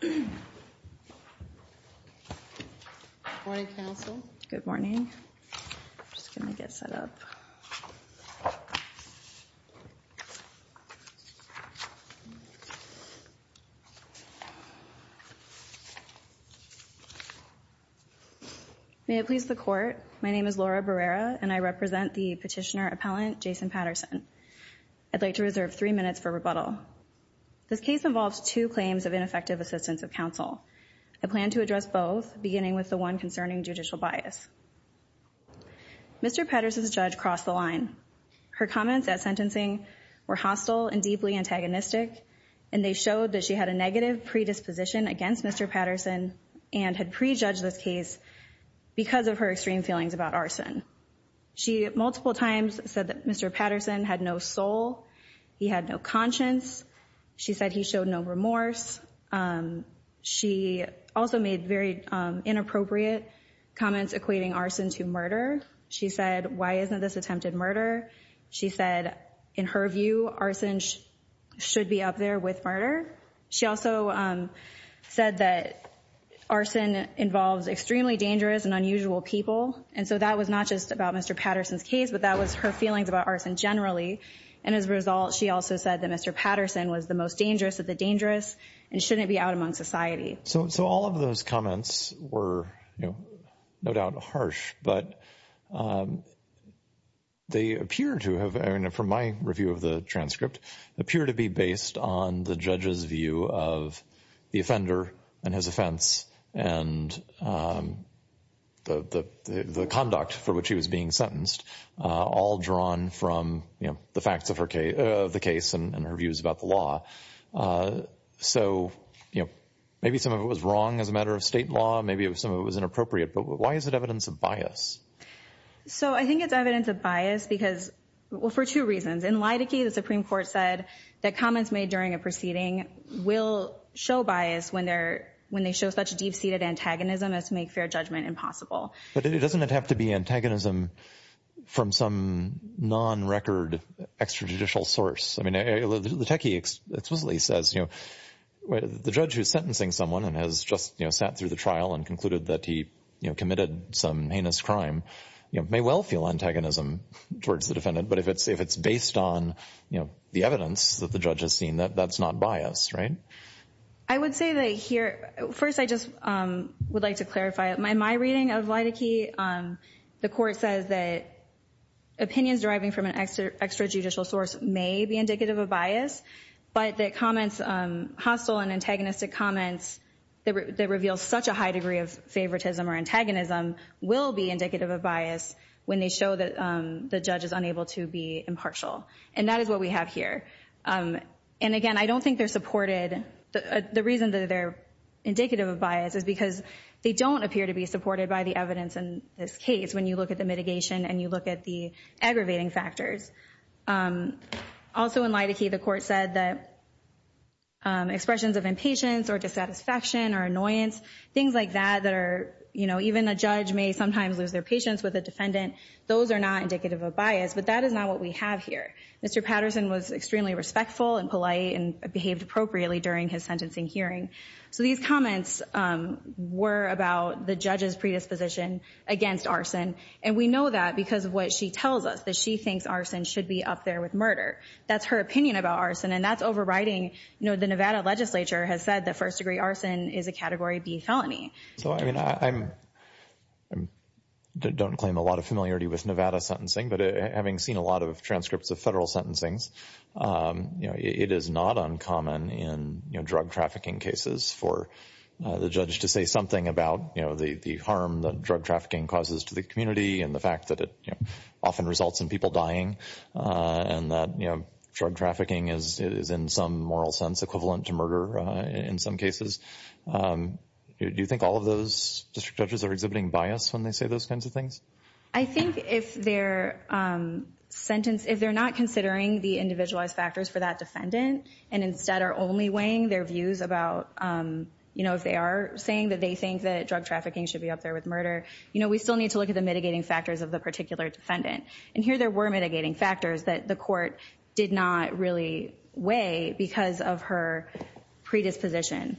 Good morning counsel. Good morning. I'm just gonna get set up. May it please the court, my name is Laura Barrera and I represent the petitioner appellant Jason Patterson. I'd like to reserve three minutes for rebuttal. This case involves two claims of ineffective assistance of counsel. I plan to address both beginning with the one concerning judicial bias. Mr. Patterson's judge crossed the line. Her comments at sentencing were hostile and deeply antagonistic and they showed that she had a negative predisposition against Mr. Patterson and had prejudged this case because of her extreme feelings about arson. She multiple times said that Mr. Patterson had no soul, he had no conscience, she said he showed no remorse. She also made very inappropriate comments equating arson to murder. She said why isn't this attempted murder? She said in her view arson should be up there with murder. She also said that arson involves extremely dangerous and unusual people and so that was not just about Mr. Patterson's case but that was her feelings about arson generally and as a result she also said that Mr. Patterson was the most dangerous of the dangerous and shouldn't be out among society. So all of those comments were you know no doubt harsh but they appear to have, from my review of the transcript, appear to be based on the judge's view of the offender and his offense and the conduct for which he was being sentenced all drawn from you know the facts of the case and her views about the law. So you know maybe some of it was wrong as a matter of state law, maybe some of it was inappropriate but why is it evidence of bias? So I think it's evidence of bias because well for two reasons. In Lydicke the Supreme Court said that comments made during a proceeding will show bias when they show such a deep-seated antagonism as to make fair judgment impossible. But it doesn't have to be an antagonism from some non-record extrajudicial source. I mean the techie explicitly says you know the judge who's sentencing someone and has just you know sat through the trial and concluded that he you know committed some heinous crime you know may well feel antagonism towards the defendant but if it's if it's based on you know the evidence that the judge has seen that that's not bias right? I would say that here first I just would like to clarify my reading of Lydicke. The court says that opinions deriving from an extra extrajudicial source may be indicative of bias but that comments hostile and antagonistic comments that reveal such a high degree of favoritism or antagonism will be indicative of bias when they show that the judge is unable to be impartial and that is what we have here. And again I don't think they're supported the reason that they're indicative of bias is because they don't appear to be supported by the evidence in this case when you look at the mitigation and you look at the aggravating factors. Also in Lydicke the court said that expressions of impatience or dissatisfaction or annoyance things like that that are you know even a judge may sometimes lose their patience with a defendant those are not indicative of bias but that is not what we have here. Mr. Patterson was extremely respectful and polite and behaved appropriately during his hearing. So these comments were about the judge's predisposition against arson and we know that because of what she tells us that she thinks arson should be up there with murder. That's her opinion about arson and that's overriding you know the Nevada legislature has said that first-degree arson is a category B felony. So I mean I don't claim a lot of familiarity with Nevada sentencing but having seen a lot of transcripts of federal sentencings you know it is not uncommon in drug trafficking cases for the judge to say something about you know the harm that drug trafficking causes to the community and the fact that it often results in people dying and that you know drug trafficking is in some moral sense equivalent to murder in some cases. Do you think all of those district judges are exhibiting bias when they say those kinds of things? I think if they're sentence if they're not considering the individualized factors for that defendant and instead are only weighing their views about you know if they are saying that they think that drug trafficking should be up there with murder you know we still need to look at the mitigating factors of the particular defendant and here there were mitigating factors that the court did not really weigh because of her predisposition.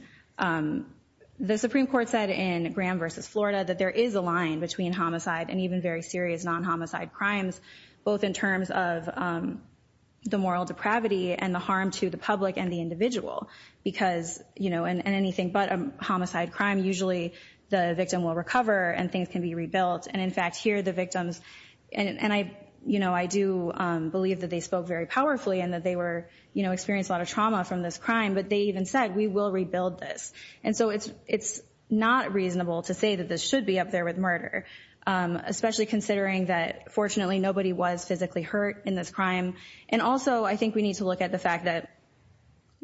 The Supreme Court said in Graham versus Florida that there is a line between homicide and even very serious non-homicide crimes both in terms of the moral depravity and the harm to the public and the individual because you know in anything but a homicide crime usually the victim will recover and things can be rebuilt and in fact here the victims and I you know I do believe that they spoke very powerfully and that they were you know experienced a lot of trauma from this crime but they even said we will rebuild this and so it's it's not reasonable to say that this should be up there with murder especially considering that fortunately nobody was physically hurt in this crime and also I think we need to look at the fact that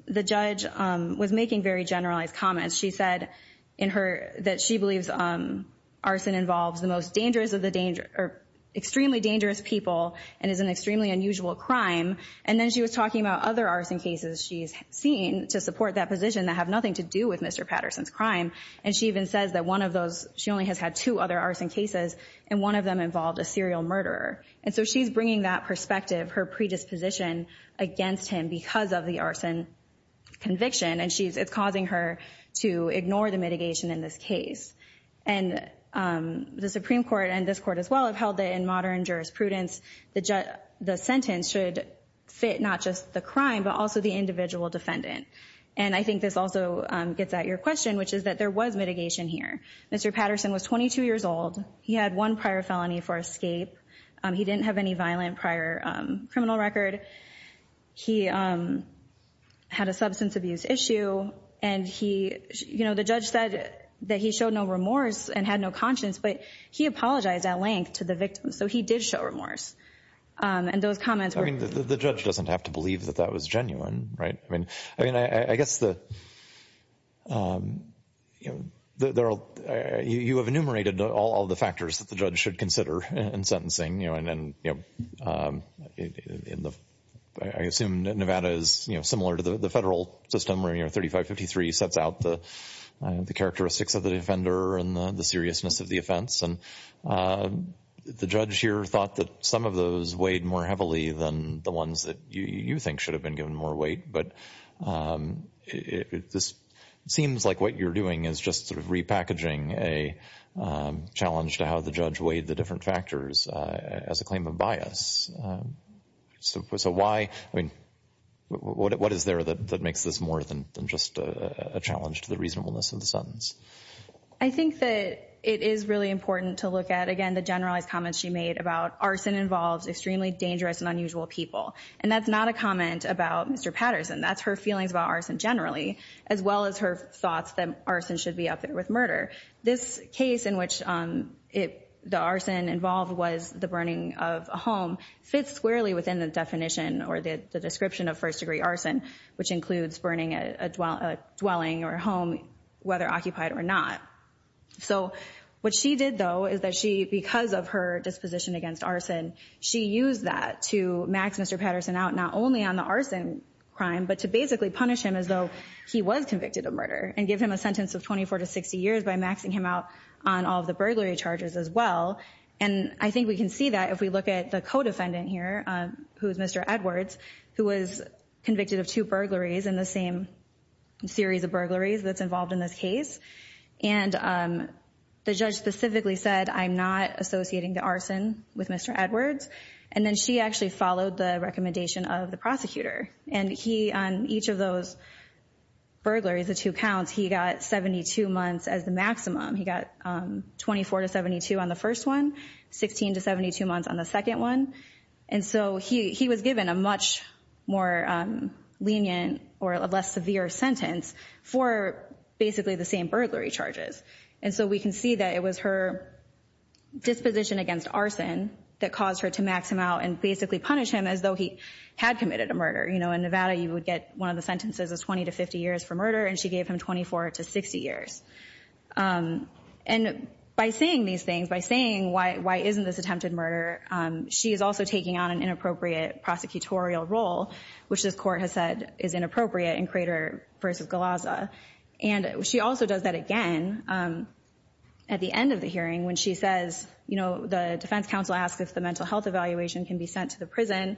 the judge was making very generalized comments she said in her that she believes arson involves the most dangerous of the danger or extremely dangerous people and is an extremely unusual crime and then she was talking about other arson cases she's seen to support that position that have nothing to do with Mr. Patterson's crime and she even says that one of those she only has had two other arson cases and one of them involved a serial murderer and so she's bringing that perspective her predisposition against him because of the arson conviction and she's it's causing her to ignore the mitigation in this case and the Supreme Court and this court as well have held it in modern jurisprudence the sentence should fit not just the crime but also the individual defendant and I think this also gets at your question which is that there was mitigation here Mr. Patterson was 22 years old he had one prior felony for escape he didn't have any violent prior criminal record he had a substance abuse issue and he you know the judge said that he showed no remorse and had no conscience but he apologized at length to the victim so he did show remorse and those comments were the judge doesn't have to believe that that is genuine right I mean I mean I guess the you know there are you have enumerated all the factors that the judge should consider and sentencing you know and then you know in the I assume Nevada is you know similar to the federal system where you know 3553 sets out the the characteristics of the defender and the seriousness of the offense and the judge here thought that some of those weighed more heavily than the ones that you you think should have been given more weight but if this seems like what you're doing is just sort of repackaging a challenge to how the judge weighed the different factors as a claim of bias so why I mean what is there that makes this more than just a challenge to the reasonableness of the sentence I think that it is really important to look at again the generalized comments she made about arson involves extremely dangerous and unusual people and that's not a comment about mr. Patterson that's her feelings about arson generally as well as her thoughts that arson should be up there with murder this case in which it the arson involved was the burning of a home fits squarely within the definition or the description of first-degree arson which includes burning a dwelling or a home whether occupied or not so what she did though is that she because of her disposition against arson she used that to max mr. Patterson out not only on the arson crime but to basically punish him as though he was convicted of murder and give him a sentence of 24 to 60 years by maxing him out on all the burglary charges as well and I think we can see that if we look at the co-defendant here who's mr. Edwards who was convicted of two burglaries in the same series of burglaries that's involved in this case and the judge specifically said I'm not associating the arson with mr. Edwards and then she actually followed the recommendation of the prosecutor and he on each of those burglaries the two counts he got 72 months as the maximum he got 24 to 72 on the first one 16 to 72 months on the second one and so he he was given a much more lenient or a less severe sentence for basically the same burglary charges and so we can see that it was her disposition against arson that caused her to max him out and basically punish him as though he had committed a murder you know in Nevada you would get one of the sentences of 20 to 50 years for murder and she gave him 24 to 60 years and by saying these things by saying why why isn't this attempted murder she is also taking on an inappropriate prosecutorial role which this court has said is inappropriate in crater versus Galazza and she also does that again at the end of the hearing when she says you know the defense counsel asked if the mental health evaluation can be sent to the prison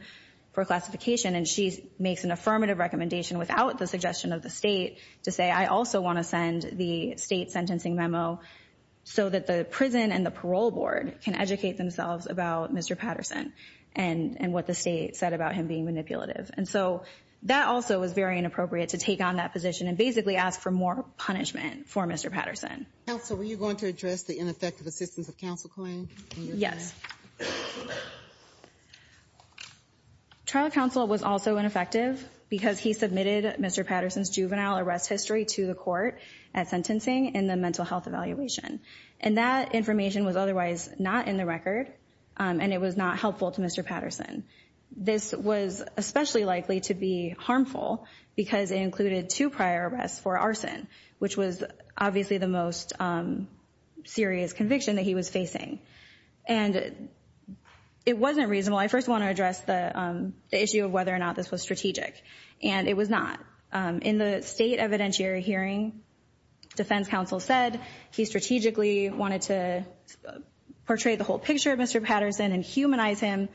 for classification and she makes an affirmative recommendation without the suggestion of the state to say I also want to send the state sentencing memo so that the prison and the parole board can educate themselves about mr. Patterson and and what the state said about him being manipulative and so that also was very inappropriate to take on that position and basically ask for more punishment for mr. Patterson also were you going to address the ineffective assistance of counsel claim yes trial counsel was also ineffective because he submitted mr. Patterson's juvenile arrest history to the court at sentencing in the mental health evaluation and that information was otherwise not in the record and it was not helpful to mr. Patterson this was especially likely to be harmful because it included two prior arrests for arson which was obviously the most serious conviction that he was facing and it wasn't reasonable I first want to address the issue of whether or not this was strategic and it was not in the state evidentiary hearing defense counsel said he strategically wanted to portray the whole picture of mr. Patterson and humanize him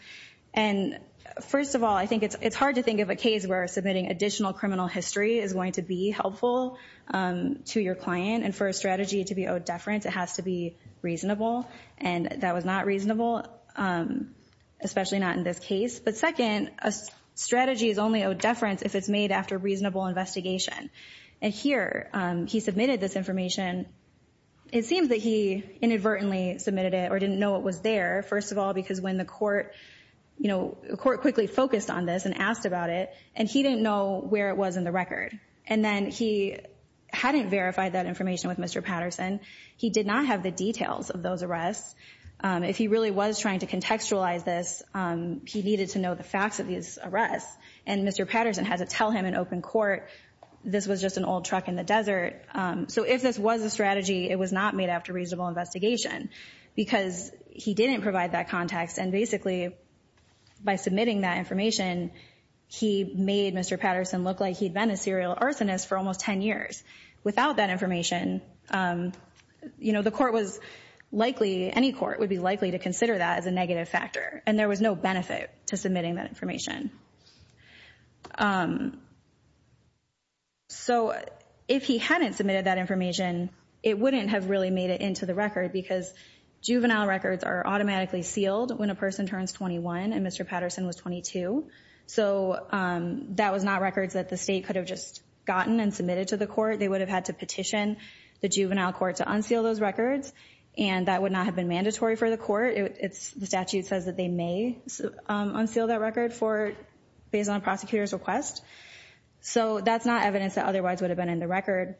and first of all I think it's it's hard to think of a case where submitting additional criminal history is going to be helpful to your client and for a strategy to be owed deference it has to be reasonable and that was not reasonable especially not in this case but second a strategy is only owed deference if it's made after reasonable investigation and here he submitted this information it seems that he inadvertently submitted it or didn't know it was there first of all because when the court you know the court quickly focused on this and asked about it and he didn't know where it was in the record and then he hadn't verified that information with mr. Patterson he did not have the details of those arrests if he really was trying to contextualize this he needed to know the facts of these arrests and mr. Patterson had to tell him in open court this was just an old truck in the desert so if this was a strategy it was not made after reasonable investigation because he didn't provide that context and basically by submitting that information he made mr. Patterson look like he'd been a serial arsonist for almost ten years without that information you know the court was likely any court would be likely to consider that as a negative factor and there was no benefit to submitting that information so if he hadn't submitted that information it wouldn't have really made it into the record because juvenile records are automatically sealed when a person turns 21 and mr. Patterson was 22 so that was not records that the state could have just gotten and submitted to the court they would have had to petition the juvenile court to unseal those records and that would not have been mandatory for the court it's the statute says that they may unseal that record for based on prosecutors request so that's not evidence that otherwise would have been in the record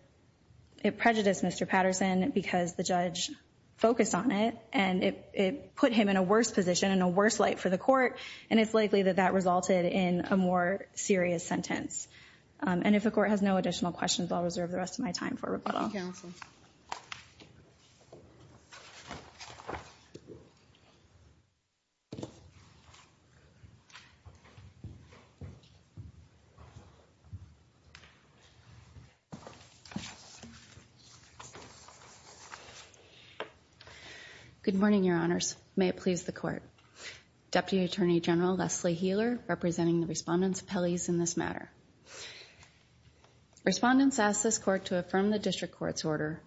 it prejudiced mr. Patterson because the focus on it and it put him in a worse position in a worse light for the court and it's likely that that resulted in a more serious sentence and if the court has no additional questions I'll reserve the rest of my time for good morning your honors may it please the court deputy attorney general Leslie Heeler representing the respondents Pelley's in this matter respondents asked this court to affirm the district court's order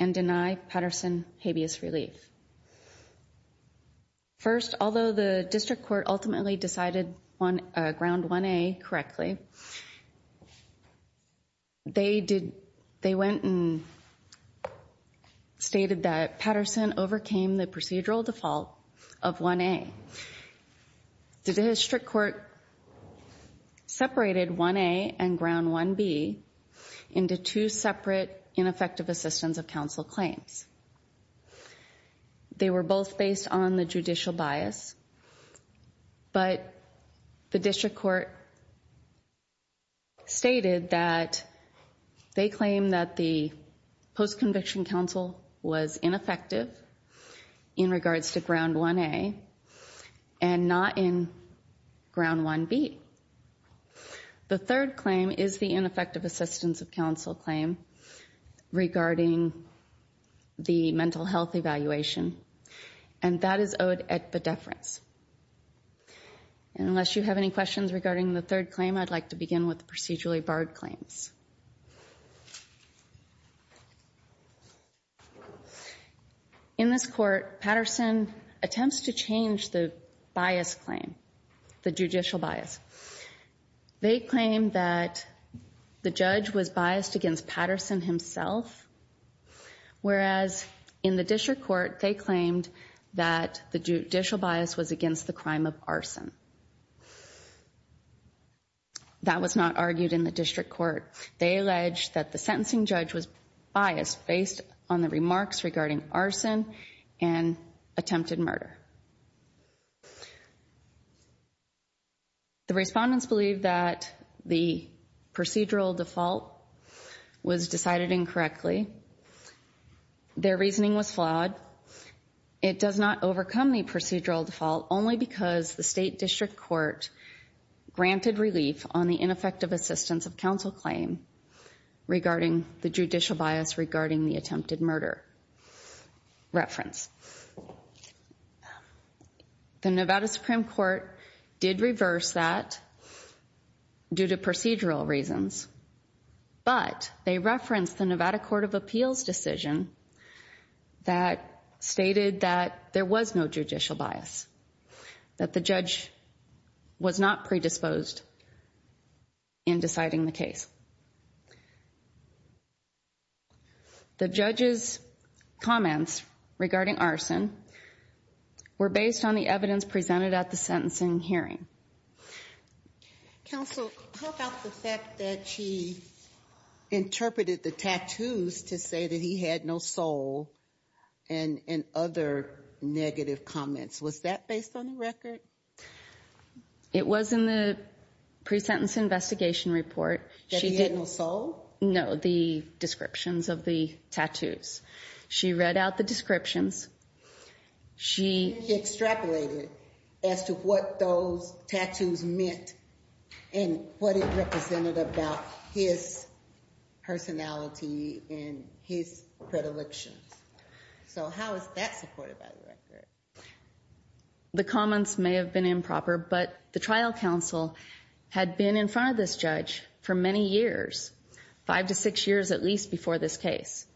and deny Patterson habeas relief first although the district court ultimately decided on ground 1a correctly they did they went and stated that Patterson overcame the procedural default of 1a the district court separated 1a and ground 1b into two separate ineffective assistance of counsel claims they were both based on the judicial bias but the district court stated that they claim that the post-conviction counsel was ineffective in regards to ground 1a and not in ground 1b the third claim is the ineffective assistance of counsel claim regarding the mental health evaluation and that is owed at the deference and unless you have any questions regarding the third claim I'd like to begin with procedurally barred claims in this court Patterson attempts to change the bias claim the judicial bias they claim that the judge was biased against Patterson himself whereas in the district court they claimed that the judicial bias was against the crime of arson that was not argued in the district court they alleged that the sentencing judge was biased based on the remarks regarding arson and attempted murder the respondents believe that the procedural default was decided incorrectly their reasoning was flawed it does not overcome the procedural default only because the state district court granted relief on the ineffective assistance of counsel claim regarding the judicial bias regarding the attempted murder reference the Nevada Supreme Court did reverse that due to procedural reasons but they referenced the Nevada Court of Appeals decision that stated that there was no judicial bias that the judge was not predisposed in citing the case the judge's comments regarding arson were based on the evidence presented at the sentencing hearing interpreted the tattoos to say that he had no soul and other negative comments was that based on the record it was in the pre-sentence investigation report she had no soul know the descriptions of the tattoos she read out the descriptions she extrapolated as to what those tattoos meant and what it represented about his personality and his predilections so how is that supported by the record the comments may have been improper but the trial counsel had been in front of this judge for many years five to six years at least before this case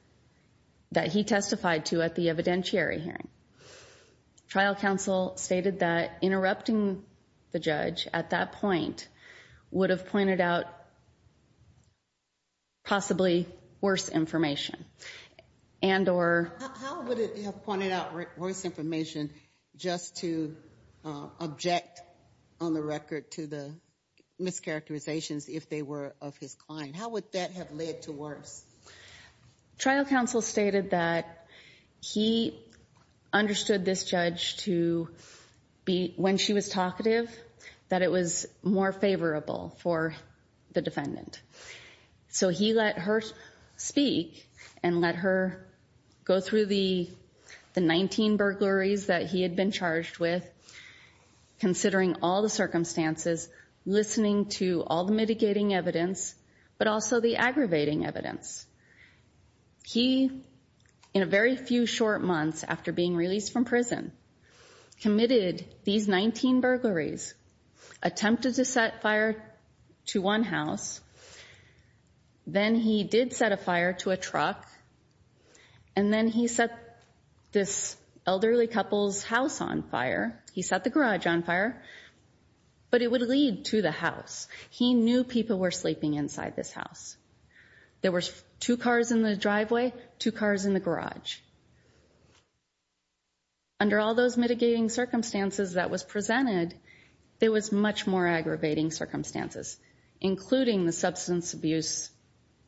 that he testified to at the evidentiary hearing trial counsel stated that interrupting the judge at that point would have pointed out possibly worse information and or pointed out worse information just to object on the record to the mischaracterizations if they were of his client how would that have led to worse trial counsel stated that he understood this judge to be when she was talkative that it was more favorable for the defendant so he let her speak and let her go through the the 19 burglaries that he had been charged with considering all the circumstances listening to all the mitigating evidence but also the aggravating evidence he in a very few short months after being released from prison committed these 19 burglaries attempted to set fire to one house then he did set a fire to a truck and then he set this elderly couple's house on fire he set the garage on fire but it would lead to the house he knew people were sleeping inside this house there were two cars in the driveway two cars in the garage under all those mitigating circumstances that was presented it was much more aggravating circumstances including the substance abuse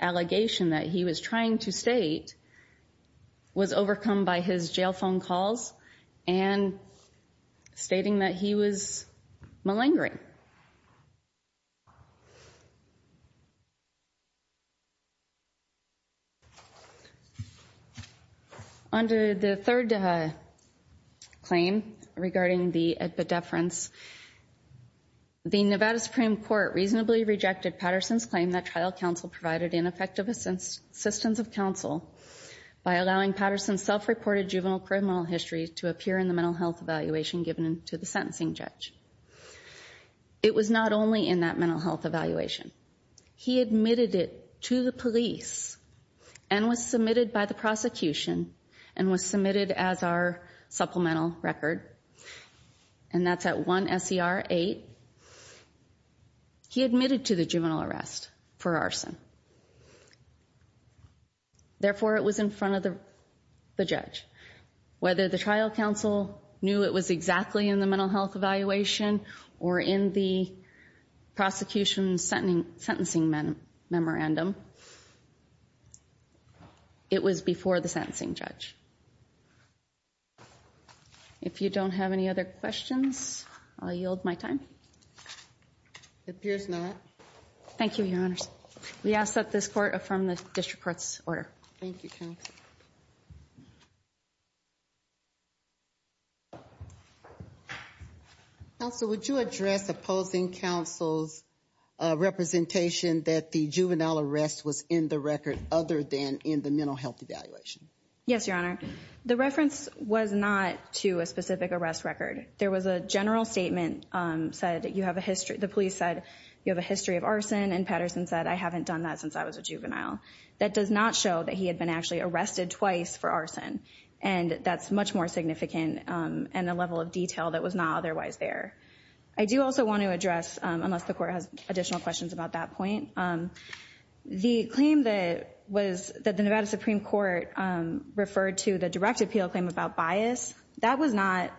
allegation that he was trying to state was overcome by his jail phone calls and stating that he was malingering under the third claim regarding the at the deference the Nevada Supreme Court reasonably rejected Patterson's claim that trial counsel provided ineffective assistance of counsel by allowing Patterson's self-reported juvenile criminal history to appear in the mental health evaluation given to the sentencing judge it was not only in that mental health evaluation he admitted it to the police and was submitted by the prosecution and was submitted as our supplemental record and that's at one SER eight he admitted to the juvenile whether the trial counsel knew it was exactly in the mental health evaluation or in the prosecution sentencing memorandum it was before the sentencing judge if you don't have any other questions I yield my time appears not thank you your honors we ask that this court from the district court's order also would you address opposing counsel's representation that the juvenile arrest was in the record other than in the mental health evaluation yes your honor the reference was not to a specific arrest record there was a general statement said that you have a history the police said you have a history of arson and Patterson said I haven't done that since I was a juvenile that does not show that he had been actually arrested twice for arson and that's much more significant and the level of detail that was not otherwise there I do also want to address unless the court has additional questions about that point the claim that was that the Nevada Supreme Court referred to the direct appeal claim about bias that was not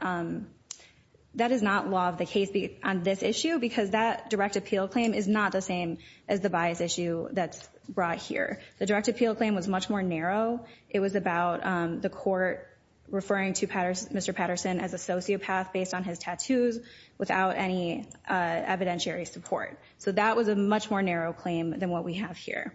that is not law of the case on this issue because that direct appeal claim is not the same as the bias issue that's brought here the direct appeal claim was much more narrow it was about the court referring to Patterson Mr. Patterson as a sociopath based on his tattoos without any evidentiary support so that was a much more narrow claim than what we have here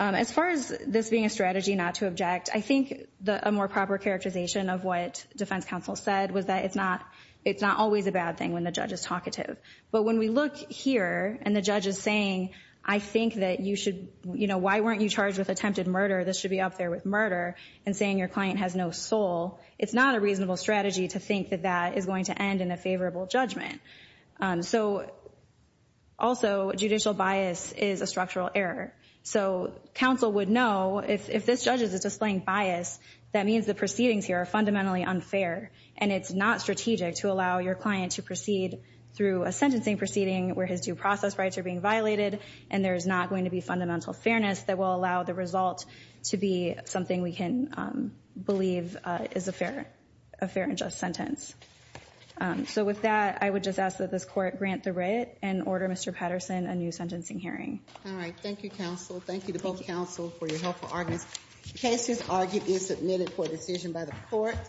as far as this being a strategy not to object I think the more proper characterization of what defense counsel said was that it's not it's not always a bad thing when the judge is talkative but when we look here and the judge is saying I think that you should you know why weren't you charged with attempted murder this should be up there with murder and saying your client has no soul it's not a reasonable strategy to think that that is going to end in a favorable judgment so also judicial bias is a structural error so counsel would know if this judge is displaying bias that means the proceedings here are fundamentally unfair and it's not strategic to allow your client to proceed through a sentencing proceeding where his due process rights are being violated and there's not going to be fundamental fairness that will allow the result to be something we can believe is a fair a fair and just sentence so with that I would just ask that this court grant the writ and order Mr. Patterson a new sentencing hearing all right thank you counsel thank you to both counsel for your helpful audience cases argued is submitted for decision by the court